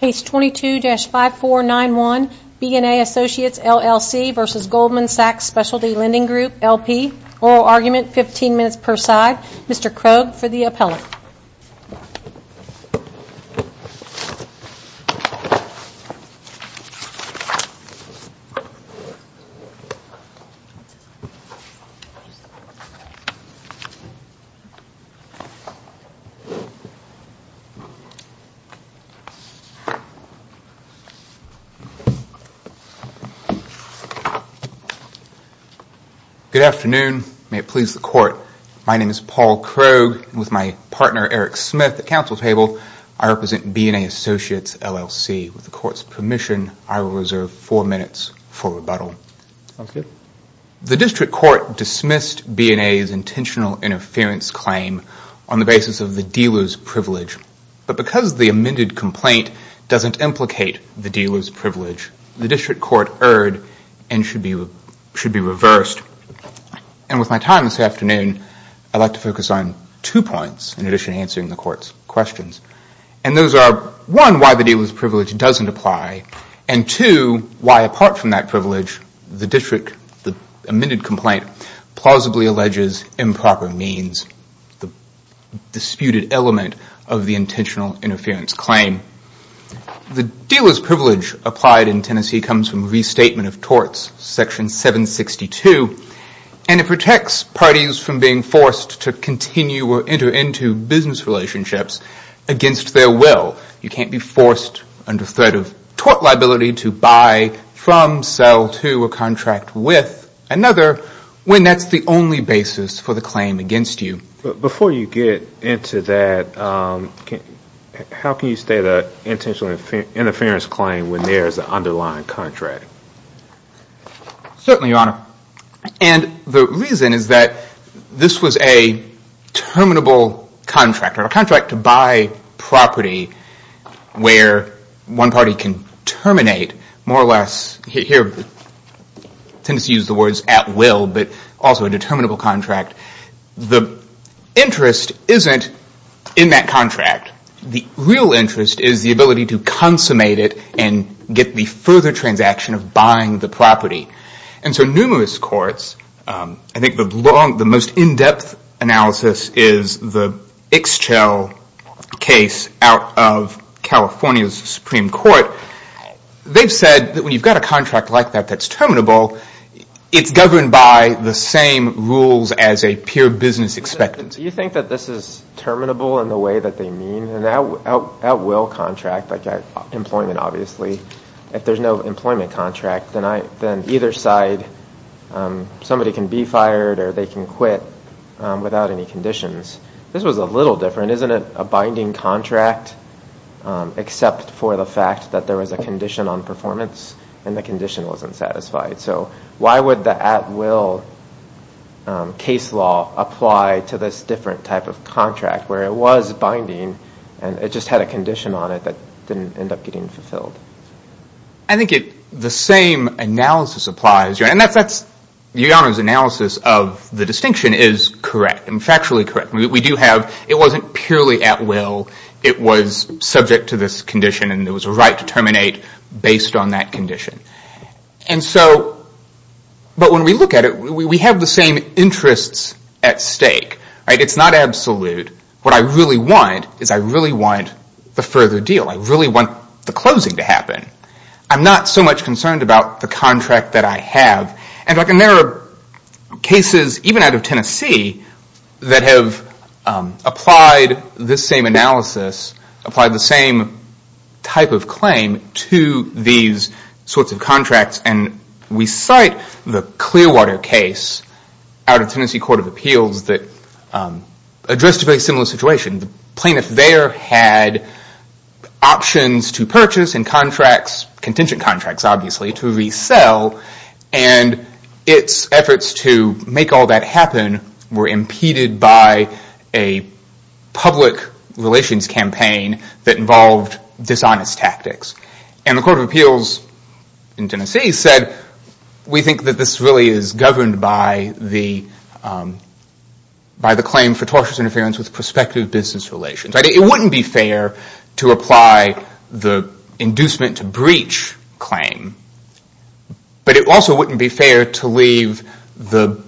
Case 22-5491, BNA Associates LLC v. Goldman Sachs Splty Lending Group, L.P. Oral Argument, 15 minutes per side. Mr. Krogh for the appellate. Good afternoon. May it please the court. My name is Paul Krogh. With my partner Eric Smith at counsel table, I represent BNA Associates LLC. With the court's permission, I will reserve four minutes for rebuttal. The district court dismissed BNA's intentional interference claim on the basis of the dealer's privilege. But because the amended complaint doesn't implicate the dealer's privilege, the district court erred and should be reversed. And with my time this afternoon, I'd like to focus on two points in addition to answering the court's questions. And those are, one, why the dealer's privilege doesn't apply, and two, why apart from that privilege, the district, the amended complaint, plausibly alleges improper means. The disputed element of the intentional interference claim. The dealer's privilege applied in Tennessee comes from restatement of torts, section 762, and it protects parties from being forced to continue or enter into business relationships against their will. You can't be forced under threat of tort liability to buy from, sell to, or contract with another when that's the only basis for the claim against you. Before you get into that, how can you state an intentional interference claim when there is an underlying contract? Certainly, Your Honor. And the reason is that this was a terminable contract, or a contract to buy property where one party can terminate, more or less, here, I tend to use the words at will, but also a determinable contract. The interest isn't in that contract. The real interest is the ability to consummate it and get the further transaction of buying the property. And so numerous courts, I think the most in-depth analysis is the Ixchel case out of California's Supreme Court. They've said that when you've got a contract like that that's terminable, it's governed by the same rules as a pure business expectancy. Do you think that this is terminable in the way that they mean? An at-will contract, employment obviously, if there's no employment contract, then either side, somebody can be fired or they can quit without any conditions. This was a little different. Isn't it a binding contract except for the fact that there was a condition on performance and the condition wasn't satisfied? So why would the at-will case law apply to this different type of contract where it was binding and it just had a condition on it that didn't end up getting fulfilled? I think the same analysis applies. Your Honor's analysis of the distinction is correct and factually correct. We do have, it wasn't purely at-will. It was subject to this condition and there was a right to terminate based on that condition. But when we look at it, we have the same interests at stake. It's not absolute. What I really want is I really want the further deal. I really want the closing to happen. I'm not so much concerned about the contract that I have. And there are cases even out of Tennessee that have applied this same analysis, applied the same type of claim to these sorts of contracts and we cite the Clearwater case out of Tennessee Court of Appeals that addressed a very similar situation. The plaintiff there had options to purchase and contracts, contingent contracts obviously, to resell and its efforts to make all that happen were impeded by a public relations campaign that involved dishonest tactics. And the Court of Appeals in Tennessee said we think that this really is governed by the claim for tortious interference with prospective business relations. It wouldn't be fair to apply the inducement to breach claim, but it also wouldn't be fair to leave the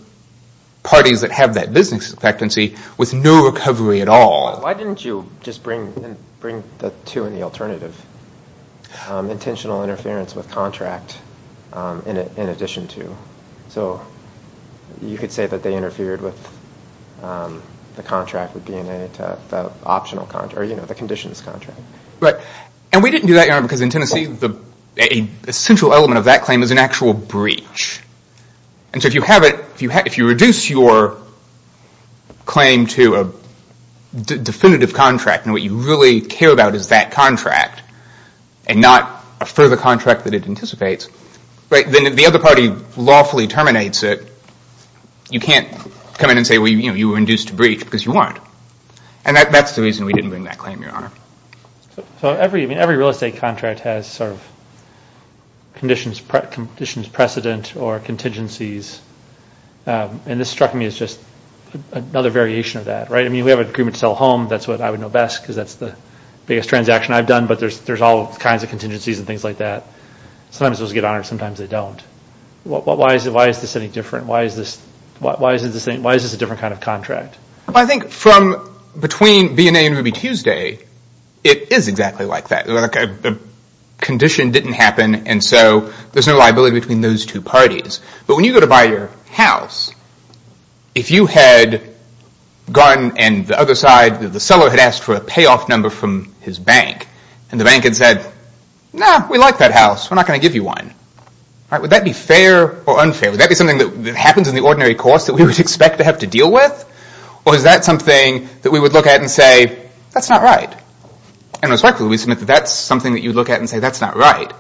parties that have that business expectancy with no recovery at all. Why didn't you just bring the two and the alternative? Intentional interference with contract in addition to. So you could say that they interfered with the contract would have been the conditions contract. And we didn't do that because in Tennessee the essential element of that claim is an actual breach. And so if you reduce your claim to a definitive contract and what you really care about is that contract and not a further contract that it anticipates, then the other party lawfully terminates it. You can't come in and say you were induced to breach because you weren't. And that's the reason we didn't bring that claim, Your Honor. Every real estate contract has sort of conditions precedent or contingencies. And this struck me as just another variation of that, right? I mean, we have an agreement to sell a home. That's what I would know best because that's the biggest transaction I've done, but there's all kinds of contingencies and things like that. Sometimes those get honored, sometimes they don't. Why is this any different? Why is this a different kind of contract? I think from between BNA and Ruby Tuesday, it is exactly like that. The condition didn't happen and so there's no liability between those two parties. But when you go to buy your house, if you had gone and the other side, the seller had asked for a payoff number from his bank, and the bank had said, no, we like that house, we're not going to give you one. Would that be fair or unfair? Would that be something that happens in the ordinary course that we would expect to have to deal with? Or is that something that we would look at and say, that's not right? And respectfully, we submit that that's something that you would look at and say, that's not right.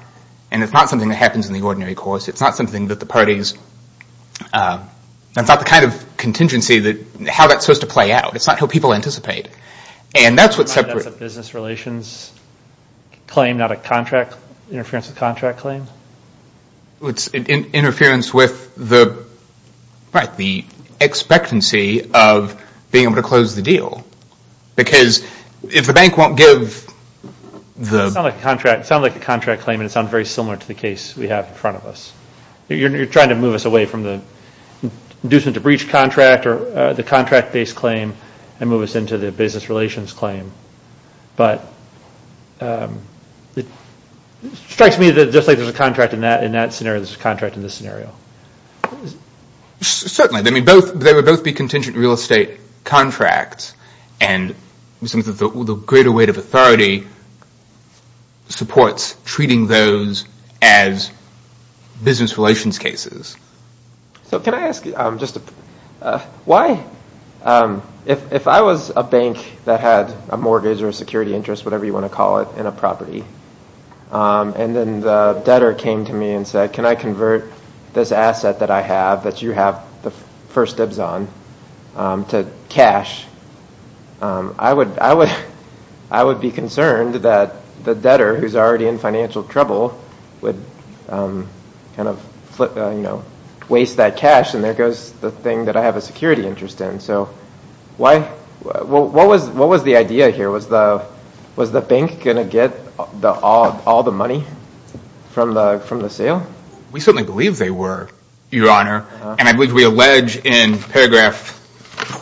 And it's not something that happens in the ordinary course. It's not something that the parties, that's not the kind of contingency that, how that's supposed to play out. It's not how people anticipate. And that's what separate... That's a business relations claim, not a contract, interference with contract claim? It's interference with the, right, the expectancy of being able to close the deal. Because if the bank won't give the... It sounds like a contract claim and it sounds very similar to the case we have in front of us. You're trying to move us away from the inducement to breach contract or the contract based claim and move us into the business relations claim. But it strikes me that just because there's a contract in that, in that scenario, there's a contract in this scenario. Certainly. They would both be contingent real estate contracts. And the greater weight of authority supports treating those as business relations cases. So can I ask just a... Why? If I was a bank that had a mortgage or a security interest, whatever you want to call it, in a property, and then the debtor came to me and said, can I convert this asset that I have, that you have the first dibs on, to cash, I would be concerned that the debtor, who's already in financial trouble, would kind of, you know, waste that cash. And there goes the thing that I have a security interest in. So why... What was the idea here? Was the bank going to get all the money from the sale? We certainly believe they were, Your Honor. And I believe we allege in paragraph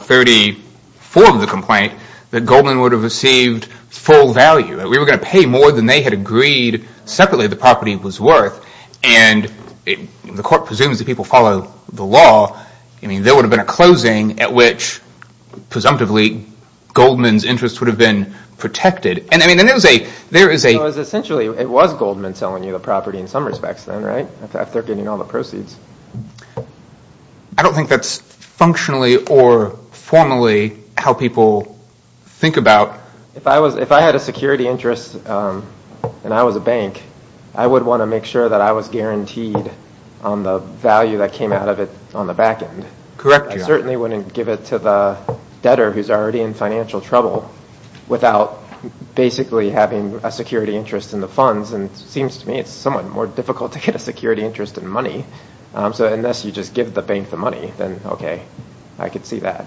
34 of the complaint that Goldman would have received full value. We were going to pay more than they had agreed separately the property was worth. And the court presumes that people follow the Goldman's interest would have been protected. And I mean, there is a... It was essentially, it was Goldman selling you the property in some respects then, right? After getting all the proceeds. I don't think that's functionally or formally how people think about... If I had a security interest and I was a bank, I would want to make sure that I was guaranteed on the value that came out of it on the back end. Correct, Your Honor. I certainly wouldn't give it to the debtor who's already in financial trouble without basically having a security interest in the funds. And it seems to me it's somewhat more difficult to get a security interest in money. So unless you just give the bank the money, then okay, I could see that.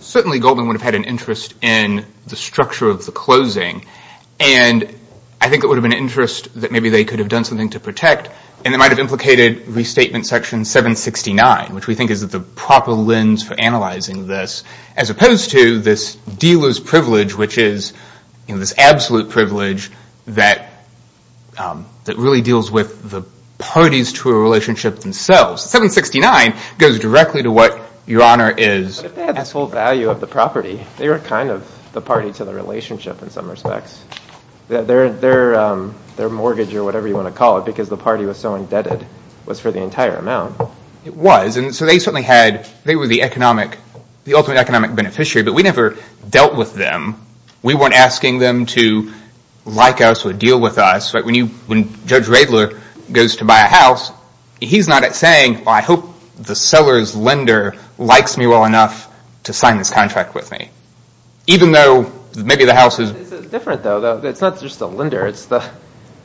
Certainly Goldman would have had an interest in the structure of the closing. And I think it would have been an interest that maybe they could have done something to protect. And it might have implicated restatement section 769, which we think is the proper lens for analyzing this, as opposed to this dealer's privilege, which is this absolute privilege that really deals with the parties to a relationship themselves. 769 goes directly to what Your Honor is... But if they had this whole value of the property, they were kind of the party to the relationship in some respects. Their mortgage or whatever you want to call it, because the party was so indebted, was for the entire amount. It was. And so they certainly had... They were the ultimate economic beneficiary. But we never dealt with them. We weren't asking them to like us or deal with us. When Judge Radler goes to buy a house, he's not saying, I hope the seller's lender likes me well enough to sign this contract with me. Even though maybe the house is... It's different though. It's not just the lender.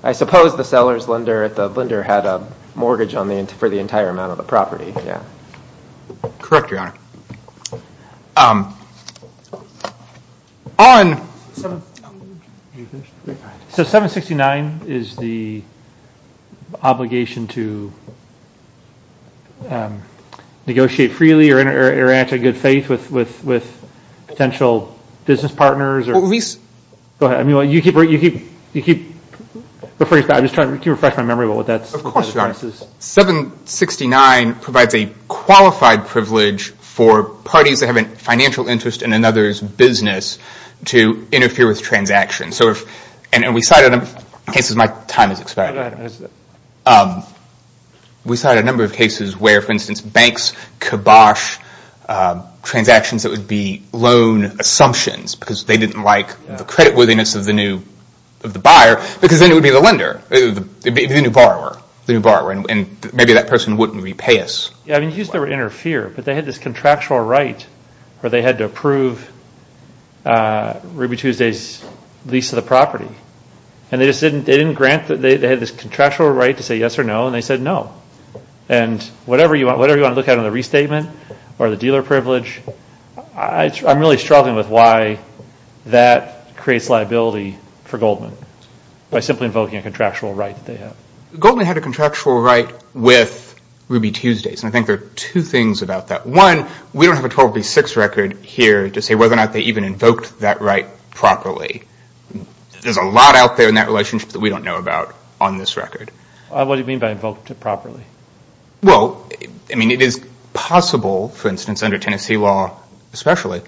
I suppose the seller's lender had a mortgage for the entire amount of the property. Correct, Your Honor. So 769 is the obligation to negotiate freely or interact in good faith with potential business partners or... Well, we... Go ahead. I mean, you keep... I'm just trying to refresh my memory about what that's... 769 provides a qualified privilege for parties that have a financial interest in another's business to interfere with transactions. So if... And we cited... In case my time has expired. No, go ahead. We cited a number of cases where, for instance, banks kibosh transactions that would be loan assumptions because they didn't like the creditworthiness of the buyer, because then it would be the person... Maybe that person wouldn't repay us. Yeah, I mean, they used to interfere, but they had this contractual right where they had to approve Ruby Tuesday's lease of the property. And they just didn't... They didn't grant... They had this contractual right to say yes or no, and they said no. And whatever you want... Whatever you want to look at in the restatement or the dealer privilege, I'm really struggling with why that creates liability for Goldman by simply invoking a contractual right that they have. Goldman had a contractual right with Ruby Tuesday's, and I think there are two things about that. One, we don't have a 1236 record here to say whether or not they even invoked that right properly. There's a lot out there in that relationship that we don't know about on this record. What do you mean by invoked properly? Well, I mean, it is possible, for instance, under Tennessee law especially,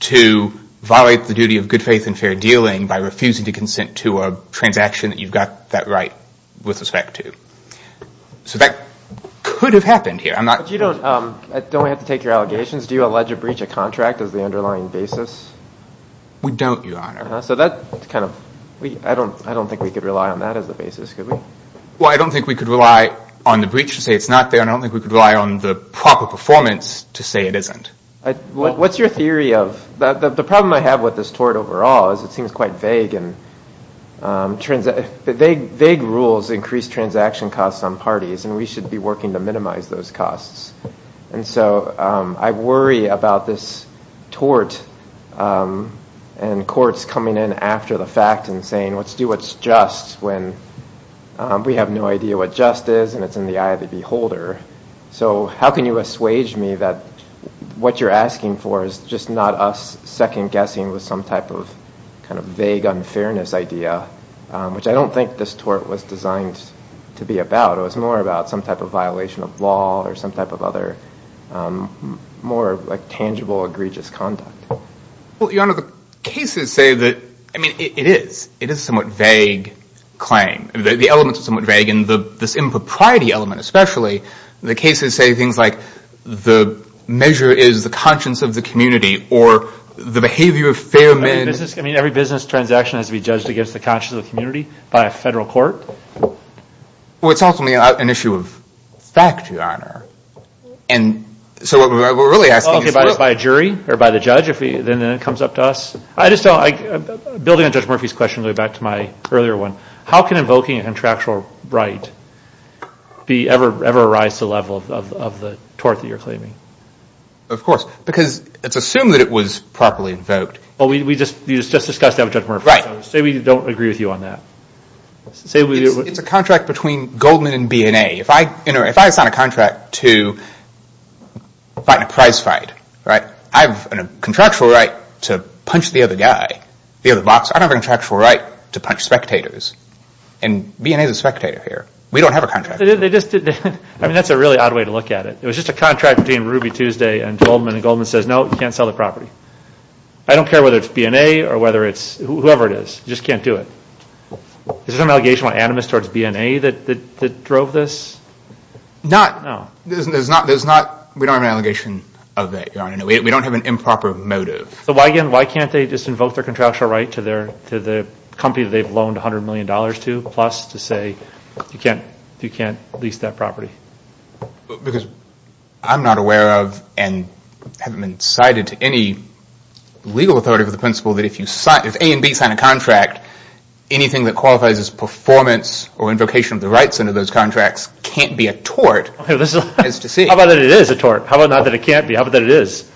to violate the duty of good faith and fair dealing by refusing to consent to a transaction that you've got that right with respect to. So that could have happened here. I'm not... But you don't... Don't we have to take your allegations? Do you allege a breach of contract as the underlying basis? We don't, Your Honor. So that's kind of... I don't think we could rely on that as the basis, could we? Well, I don't think we could rely on the breach to say it's not there, and I don't think we could rely on the proper performance to say it isn't. What's your theory of... The problem I have with this tort overall is it seems quite vague and... Vague rules increase transaction costs on parties, and we should be working to minimize those costs. And so I worry about this tort and courts coming in after the fact and saying, let's do what's just when we have no idea what just is and it's in the eye of the beholder. So how can you assuage me that what you're asking for is just not us second-guessing with some type of vague unfairness idea, which I don't think this tort was designed to be about. It was more about some type of violation of law or some type of other more tangible egregious conduct. Well, Your Honor, the cases say that... I mean, it is. It is a somewhat vague claim. The elements are somewhat vague, and this impropriety element especially, the cases say things like the measure is the conscience of the community or the behavior of fair men... I mean, every business transaction has to be judged against the conscience of the community by a federal court? Well, it's ultimately an issue of fact, Your Honor. And so what we're really asking is... Okay, by a jury or by the judge, then it comes up to us? I just don't... Building on Judge Murphy's question, going back to my earlier one, how can invoking a contractual right ever rise to the level of the tort that you're talking about? Of course. Because it's assumed that it was properly invoked. Well, you just discussed that with Judge Murphy. Right. Say we don't agree with you on that. It's a contract between Goldman and B&A. If I sign a contract to fight in a prize fight, right? I have a contractual right to punch the other guy, the other boxer. I don't have a contractual right to punch spectators. And B&A is a spectator here. We don't have a contract. I mean, that's a really odd way to look at it. It was just a contract between Ruby Tuesday and Goldman, and Goldman says, no, you can't sell the property. I don't care whether it's B&A or whether it's whoever it is. You just can't do it. Is there some allegation of animus towards B&A that drove this? No. No. There's not... We don't have an allegation of that, Your Honor. We don't have an improper motive. So why, again, why can't they just invoke their contractual right to the company that they've loaned $100 million to plus to say you can't lease that property? Because I'm not aware of and haven't been cited to any legal authority for the principle that if A and B sign a contract, anything that qualifies as performance or invocation of the rights under those contracts can't be a tort. How about that it is a tort? How about not that it can't be? How about that it is?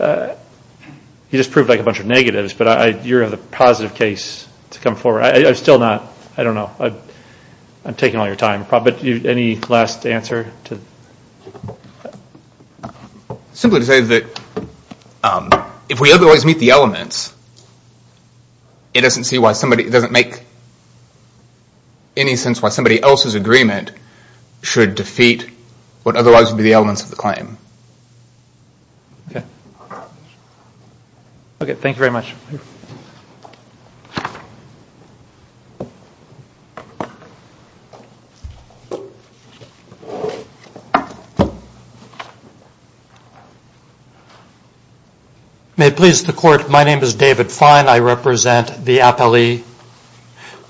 You just proved a bunch of negatives, but you're a positive case to come forward. I'm still not. I don't know. I'm taking all your time. But any last answer? Simply to say that if we otherwise meet the elements, it doesn't make any sense why somebody else's agreement should defeat what otherwise would be the elements of the claim. Okay. Okay. Thank you very much. May it please the Court, my name is David Fine. I represent the Appellee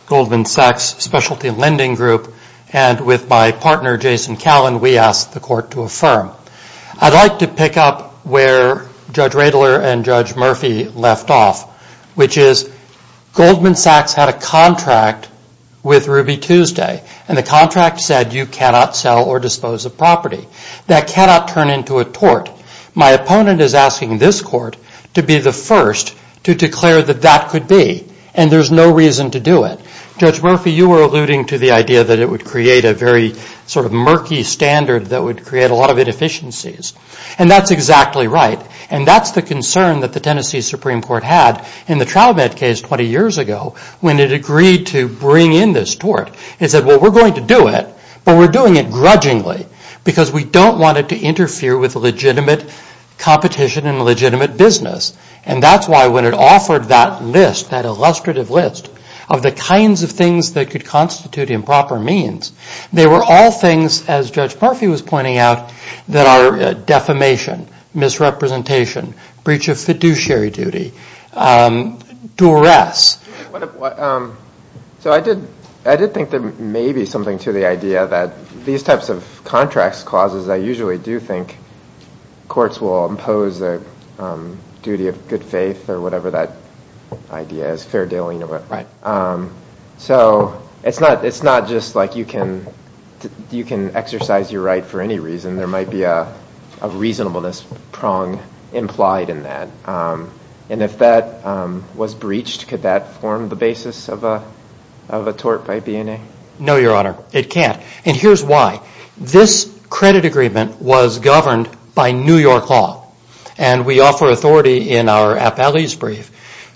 Goldman Sachs Specialty Lending Group. And with my partner, Jason Callen, we ask the Court to affirm I'd like to pick up where Judge Radler and Judge Murphy left off, which is Goldman Sachs had a contract with Ruby Tuesday. And the contract said you cannot sell or dispose of property. That cannot turn into a tort. My opponent is asking this Court to be the first to declare that that could be. And there's no reason to do it. Judge Murphy, you were alluding to the idea that it would create a very sort of murky standard that would create a lot of inefficiencies. And that's exactly right. And that's the concern that the Tennessee Supreme Court had in the Troubad case 20 years ago when it agreed to bring in this tort. It said, well, we're going to do it, but we're doing it grudgingly because we don't want it to interfere with legitimate competition and legitimate business. And that's why when it offered that list, that illustrative list, of the kinds of things that could constitute improper means, they were all things, as Judge Murphy was pointing out, that are defamation, misrepresentation, breach of fiduciary duty, duress. So I did think there may be something to the idea that these types of contracts clauses, I usually do think courts will impose a duty of good faith or whatever that idea is, fair dealing. So it's not just like you can exercise your right for any reason. There might be a reasonableness prong implied in that. And if that was breached, could that form the basis of a tort by BNA? No, Your Honor, it can't. And here's why. This credit agreement was governed by New York law. And we offer authority in our appellee's brief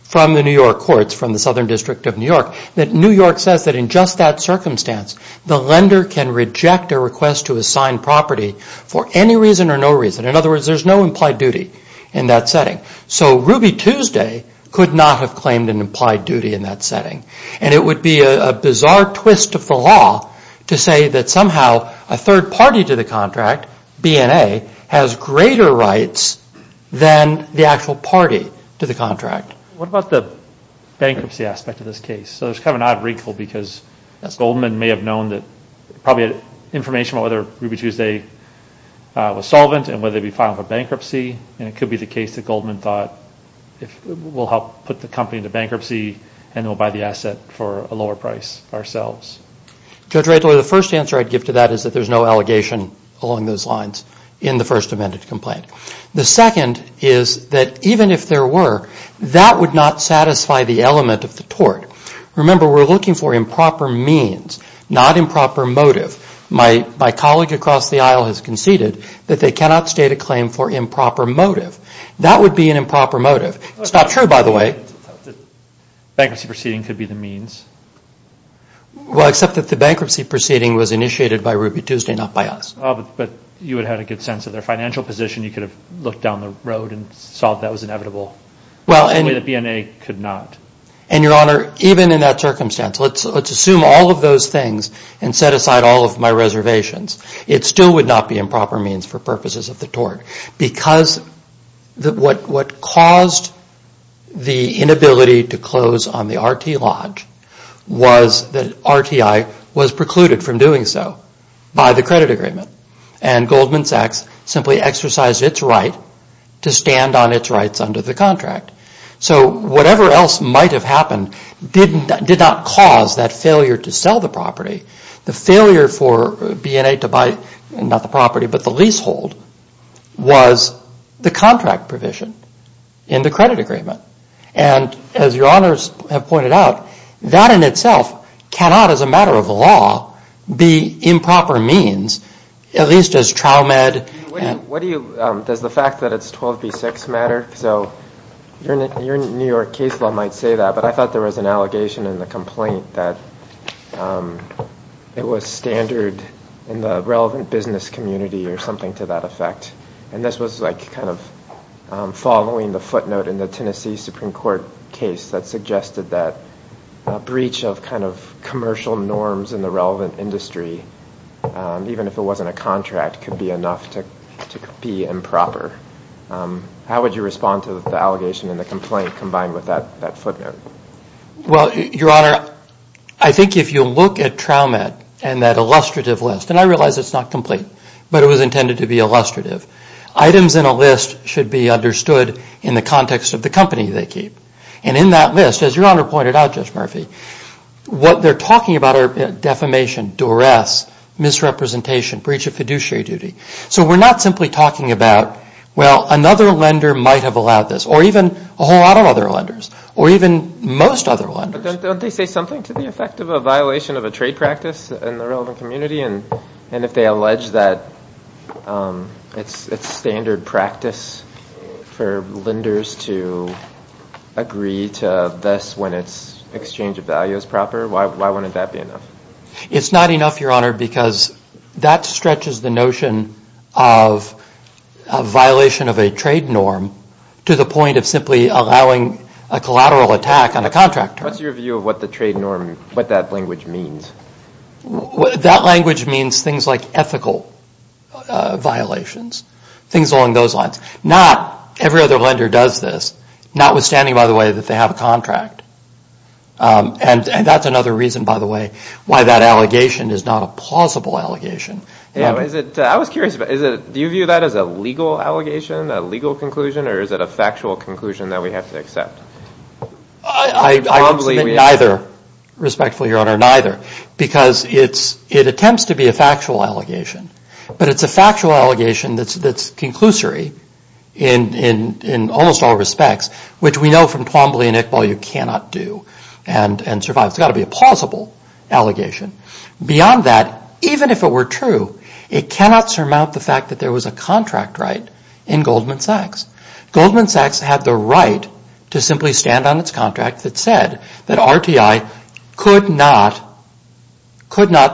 from the New York courts, from the Southern District of New York, that New York says that in just that circumstance, the lender can reject a request to assign property for any reason or no reason. In other words, there's no implied duty in that setting. So Ruby Tuesday could not have claimed an implied duty in that setting. And it would be a bizarre twist of the law to say that somehow a third party to the contract, BNA, has greater rights than the actual party to the contract. What about the bankruptcy aspect of this case? So there's kind of an odd wrinkle because Goldman may have known that, probably had information about whether Ruby Tuesday was solvent and whether it would be filed for bankruptcy. And it could be the case that Goldman thought we'll help put the company into bankruptcy and then we'll buy the asset for a lower price ourselves. Judge Redler, the first answer I'd give to that is that there's no allegation along those lines in the first amended complaint. The second is that even if there were, that would not satisfy the element of the tort. Remember, we're looking for improper means, not improper motive. My colleague across the aisle has conceded that they cannot state a claim for improper motive. That would be an improper motive. It's not true, by the way. Bankruptcy proceeding could be the means. Well, except that the bankruptcy proceeding was initiated by Ruby Tuesday, not by us. But you would have had a good sense of their financial position. You could have looked down the road and saw that was inevitable. Only the BNA could not. And, Your Honor, even in that circumstance, let's assume all of those things and set aside all of my reservations. It still would not be improper means for purposes of the tort. Because what caused the inability to close on the RT Lodge was that RTI was precluded from doing so by the credit agreement. And Goldman Sachs simply exercised its right to stand on its rights under the contract. So whatever else might have happened did not cause that failure to sell the property. The failure for BNA to buy, not the property, but the leasehold, was the contract provision in the credit agreement. And as Your Honors have pointed out, that in itself cannot, as a matter of law, be improper means, at least as trial med. What do you, does the fact that it's 12B6 matter? So your New York case law might say that. But I thought there was an allegation in the complaint that it was standard in the relevant business community or something to that effect. And this was like kind of following the footnote in the Tennessee Supreme Court case that suggested that a breach of kind of commercial norms in the relevant industry, even if it wasn't a contract, could be enough to be improper. How would you respond to the allegation in the complaint combined with that footnote? Well, Your Honor, I think if you look at trial med and that illustrative list, and I realize it's not complete, but it was intended to be illustrative. Items in a list should be understood in the context of the company they keep. And in that list, as Your Honor pointed out, Judge Murphy, what they're talking about are defamation, duress, misrepresentation, breach of fiduciary duty. So we're not simply talking about, well, another lender might have allowed this, or even a whole lot of other lenders, or even most other lenders. But don't they say something to the effect of a violation of a trade practice in the relevant community? And if they allege that it's standard practice for lenders to agree to this when its exchange of value is proper, why wouldn't that be enough? It's not enough, Your Honor, because that stretches the notion of a violation of a trade norm to the point of simply allowing a collateral attack on a contractor. What's your view of what the trade norm, what that language means? That language means things like ethical violations, things along those lines. Not every other lender does this, notwithstanding, by the way, that they have a contract. And that's another reason, by the way, why that allegation is not a plausible allegation. I was curious, do you view that as a legal allegation, a legal conclusion, or is it a factual conclusion that we have to accept? I would submit neither, respectfully, Your Honor, neither, because it attempts to be a factual allegation. But it's a factual allegation that's conclusory in almost all respects, which we know from Twombly and Iqbal you cannot do and survive. It's got to be a plausible allegation. Beyond that, even if it were true, it cannot surmount the fact that there was a contract right in Goldman Sachs. Goldman Sachs had the right to simply stand on its contract that said that RTI could not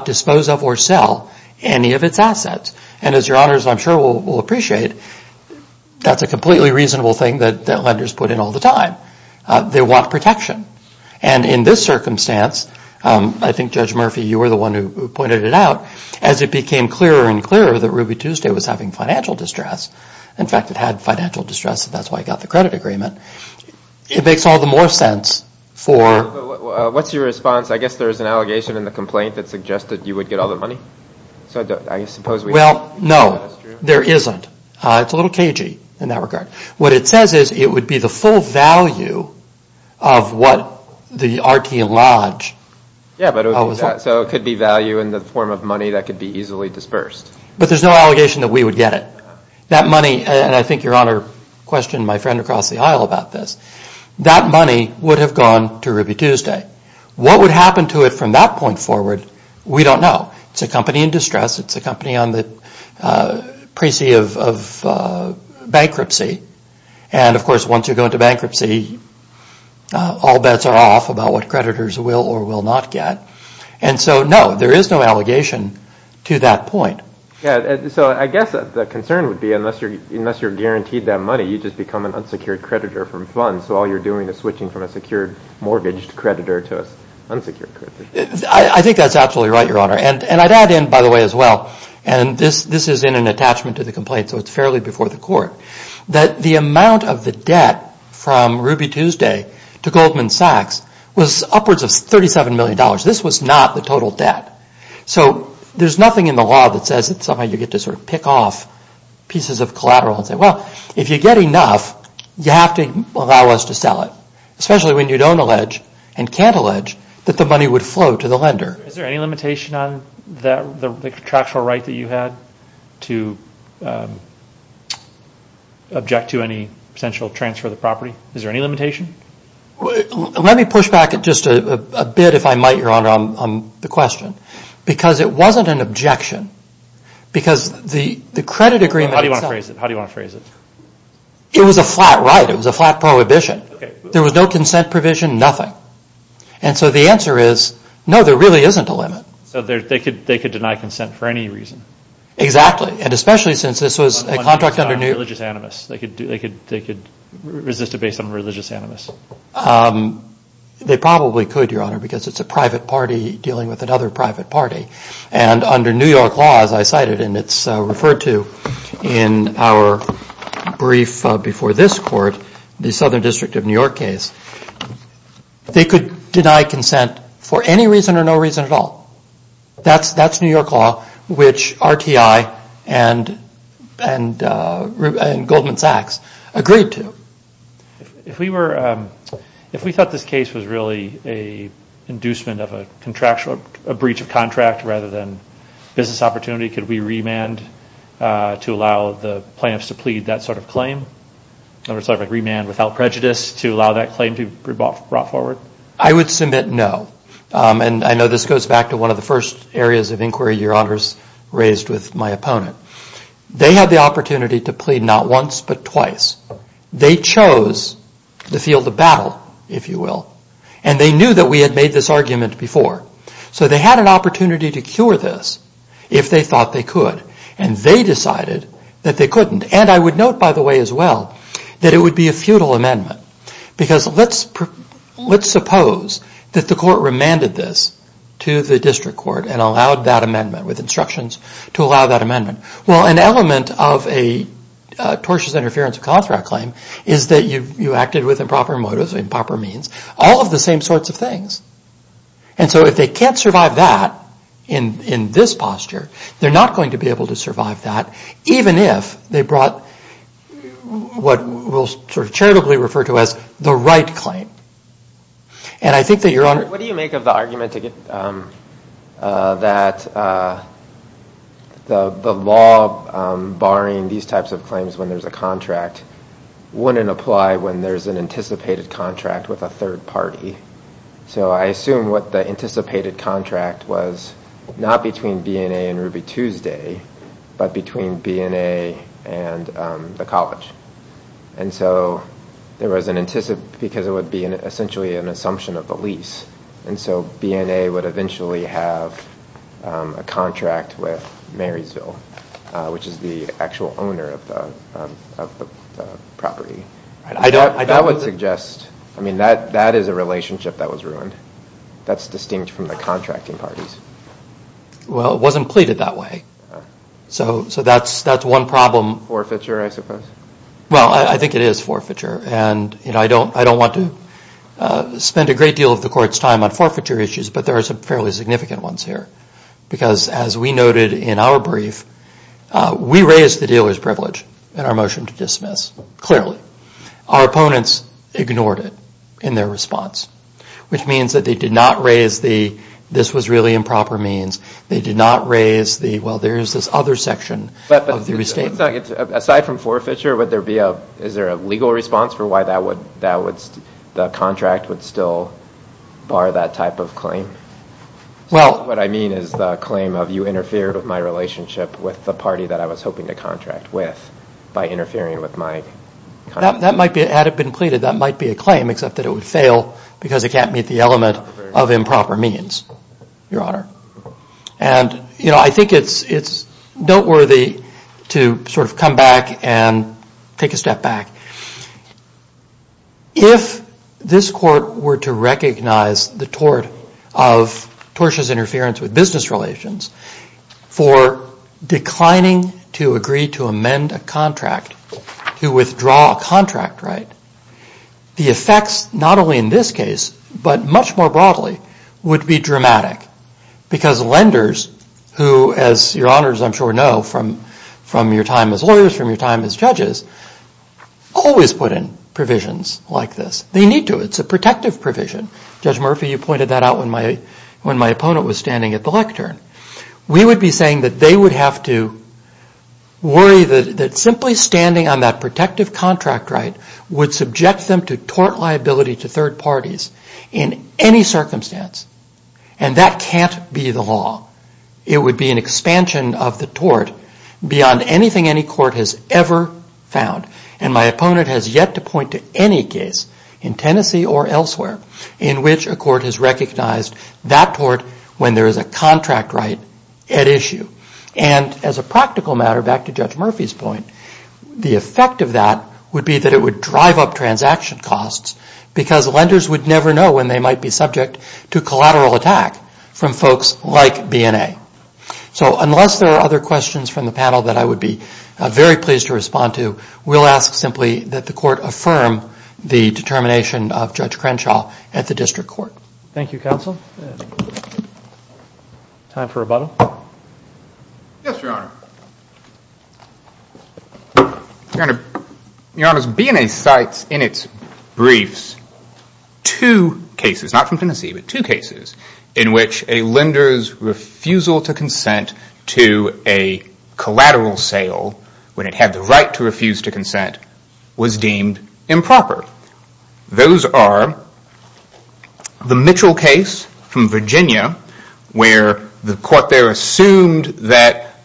dispose of or sell any of its assets. And as Your Honors, I'm sure, will appreciate, that's a completely reasonable thing that lenders put in all the time. They want protection. And in this circumstance, I think, Judge Murphy, you were the one who pointed it out, as it became clearer and clearer that Ruby Tuesday was having financial distress, in fact, it had financial distress and that's why it got the credit agreement, it makes all the more sense for... What's your response? I guess there's an allegation in the complaint that suggested you would get all the money. Well, no, there isn't. It's a little cagey in that regard. What it says is it would be the full value of what the RTI Lodge... Yeah, so it could be value in the form of money that could be easily dispersed. But there's no allegation that we would get it. That money, and I think Your Honor questioned my friend across the aisle about this, that money would have gone to Ruby Tuesday. What would happen to it from that point forward, we don't know. It's a company in distress. It's a company on the pre-sea of bankruptcy. And, of course, once you go into bankruptcy, all bets are off about what creditors will or will not get. And so, no, there is no allegation to that point. So I guess the concern would be, unless you're guaranteed that money, you just become an unsecured creditor from funds, so all you're doing is switching from a secured mortgage creditor to an unsecured creditor. I think that's absolutely right, Your Honor. And I'd add in, by the way, as well, and this is in an attachment to the complaint, so it's fairly before the court, that the amount of the debt from Ruby Tuesday to Goldman Sachs was upwards of $37 million. This was not the total debt. So there's nothing in the law that says that somehow you get to sort of pick off pieces of collateral and say, well, if you get enough, you have to allow us to sell it. Especially when you don't allege and can't allege that the money would flow to the lender. Is there any limitation on the contractual right that you had to object to any potential transfer of the property? Is there any limitation? Let me push back just a bit, if I might, Your Honor, on the question. Because it wasn't an objection. Because the credit agreement itself... How do you want to phrase it? It was a flat right. It was a flat prohibition. There was no consent provision, nothing. And so the answer is, no, there really isn't a limit. So they could deny consent for any reason. Exactly. And especially since this was a contract under... Religious animus. They could resist it based on religious animus. They probably could, Your Honor, because it's a private party dealing with another private party. And under New York law, as I cited, and it's referred to in our brief before this court, the Southern District of New York case, they could deny consent for any reason or no reason at all. That's New York law, which RTI and Goldman Sachs agreed to. If we thought this case was really an inducement of a breach of contract rather than business opportunity, could we remand to allow the plaintiffs to plead that sort of claim? Remand without prejudice to allow that claim to be brought forward? I would submit no. And I know this goes back to one of the first areas of inquiry Your Honors raised with my opponent. They had the opportunity to plead not once but twice. They chose the field of battle, if you will. And they knew that we had made this argument before. So they had an opportunity to cure this if they thought they could. And they decided that they couldn't. And I would note, by the way, as well, that it would be a futile amendment. Because let's suppose that the court remanded this to the district court and allowed that amendment with instructions to allow that amendment. Well, an element of a tortious interference of contract claim is that you acted with improper motives, improper means, all of the same sorts of things. And so if they can't survive that in this posture, they're not going to be able to survive that even if they brought what we'll sort of charitably refer to as the right claim. And I think that Your Honor... What do you make of the argument that the law barring these types of claims when there's a contract wouldn't apply when there's an anticipated contract with a third party? So I assume what the anticipated contract was not between BNA and Ruby Tuesday, but between BNA and the college. And so there was an anticipate because it would be essentially an assumption of the lease. And so BNA would eventually have a contract with Marysville, which is the actual owner of the property. That would suggest, I mean, that is a relationship that was ruined. That's distinct from the contracting parties. Well, it wasn't pleaded that way. So that's one problem. Forfeiture, I suppose. Well, I think it is forfeiture. And I don't want to spend a great deal of the Court's time on forfeiture issues, but there are some fairly significant ones here. Because as we noted in our brief, we raised the dealer's privilege in our motion to dismiss, clearly. Our opponents ignored it in their response, which means that they did not raise the, this was really improper means. They did not raise the, well, there is this other section of the restatement. Aside from forfeiture, is there a legal response for why the contract would still bar that type of claim? What I mean is the claim of you interfered with my relationship with the party that I was hoping to contract with by interfering with my contract. That might be, had it been pleaded, that might be a claim, except that it would fail because it can't meet the element of improper means, Your Honor. And, you know, I think it's noteworthy to sort of come back and take a step back. If this Court were to recognize the tort of Torsh's interference with business relations for declining to agree to amend a contract, to withdraw a contract right, the effects, not only in this case, but much more broadly, would be dramatic. Because lenders who, as Your Honors, I'm sure, know from your time as lawyers, from your time as judges, always put in provisions like this. They need to. It's a protective provision. Judge Murphy, you pointed that out when my opponent was standing at the lectern. We would be saying that they would have to worry that simply standing on that protective contract right would subject them to tort liability to third parties in any circumstance. And that can't be the law. It would be an expansion of the tort beyond anything any court has ever found. And my opponent has yet to point to any case in Tennessee or elsewhere in which a court has recognized that tort when there is a contract right at issue. And as a practical matter, back to Judge Murphy's point, the effect of that would be that it would drive up transaction costs because lenders would never know when they might be subject to collateral attack from folks like BNA. So unless there are other questions from the panel that I would be very pleased to respond to, we'll ask simply that the court affirm the determination of Judge Crenshaw at the district court. Thank you, counsel. Time for rebuttal. Yes, Your Honor. Your Honor, BNA cites in its briefs two cases, not from Tennessee, but two cases in which a lender's refusal to consent to a collateral sale when it had the right to refuse to consent was deemed improper. Those are the Mitchell case from Virginia where the court there assumed that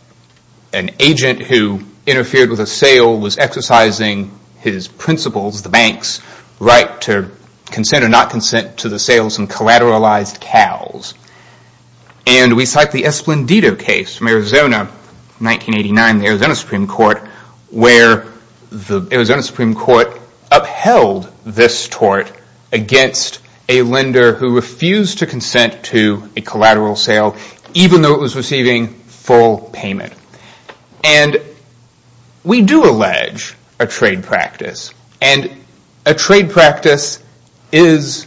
an agent who interfered with a sale was exercising his principles, the bank's right to consent or not consent to the sales of collateralized cows. And we cite the Esplendido case from Arizona, 1989, the Arizona Supreme Court, where the Arizona Supreme Court upheld this tort against a lender who refused to consent to a collateral sale even though it was receiving full payment. And we do allege a trade practice, and a trade practice is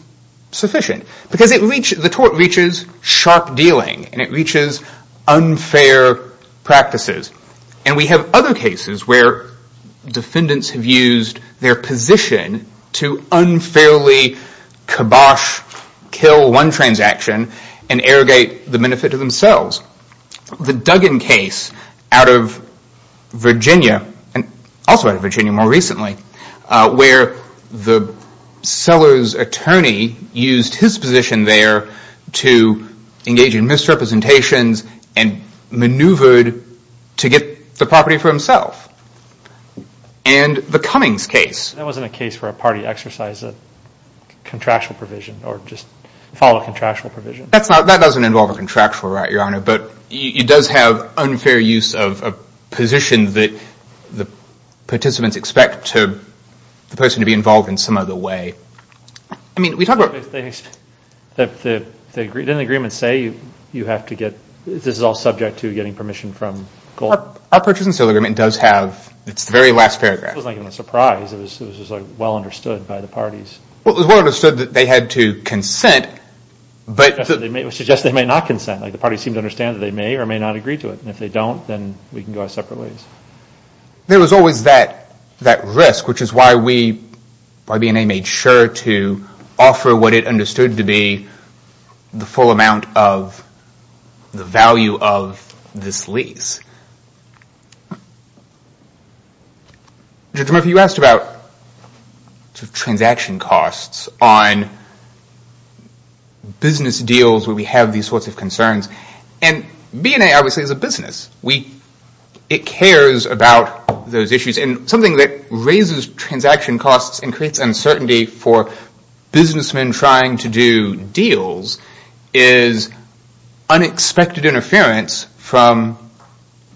sufficient because the tort reaches sharp dealing and it reaches unfair practices. And we have other cases where defendants have used their position to unfairly kibosh kill one transaction and arrogate the benefit to themselves. The Duggan case out of Virginia, and also out of Virginia more recently, where the seller's attorney used his position there to engage in misrepresentations and maneuvered to get the property for himself. And the Cummings case. That wasn't a case where a party exercised a contractual provision or just followed a contractual provision. It does have unfair use of a position that the participants expect the person to be involved in some other way. Didn't the agreement say you have to get, this is all subject to getting permission from gold? Our Purchase and Sale Agreement does have, it's the very last paragraph. It wasn't even a surprise. It was well understood by the parties. It was well understood that they had to consent. It was suggested they might not consent. The parties seemed to understand that they may or may not agree to it. And if they don't, then we can go out separate ways. There was always that risk, which is why we, why BNA made sure to offer what it understood to be the full amount of the value of this lease. Judge Murphy, you asked about transaction costs on business deals where we have these sorts of concerns. And BNA obviously is a business. It cares about those issues. And something that raises transaction costs and creates uncertainty for businessmen trying to do deals is unexpected interference from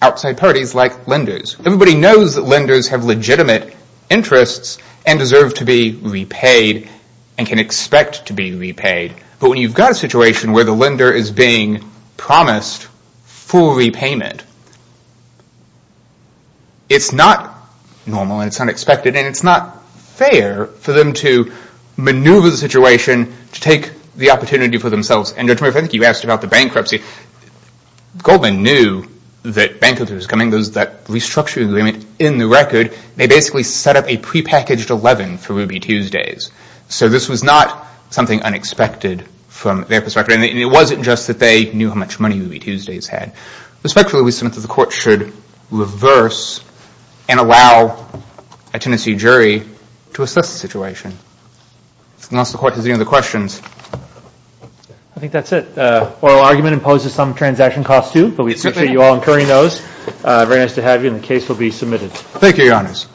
outside parties like lenders. Everybody knows that lenders have legitimate interests and deserve to be repaid and can expect to be repaid. But when you've got a situation where the lender is being promised full repayment, it's not normal and it's unexpected to take the opportunity for themselves. And Judge Murphy, I think you asked about the bankruptcy. Goldman knew that bankruptcy was coming. There was that restructuring agreement in the record. They basically set up a prepackaged 11 for Ruby Tuesdays. So this was not something unexpected from their perspective. And it wasn't just that they knew how much money Ruby Tuesdays had. Respectfully, we submit that the Court should reverse and allow a tenancy jury to assess the situation. If the Court has any other questions. I think that's it. Oral argument imposes some transaction costs too, but we appreciate you all incurring those. Very nice to have you, and the case will be submitted. Thank you, Your Honors.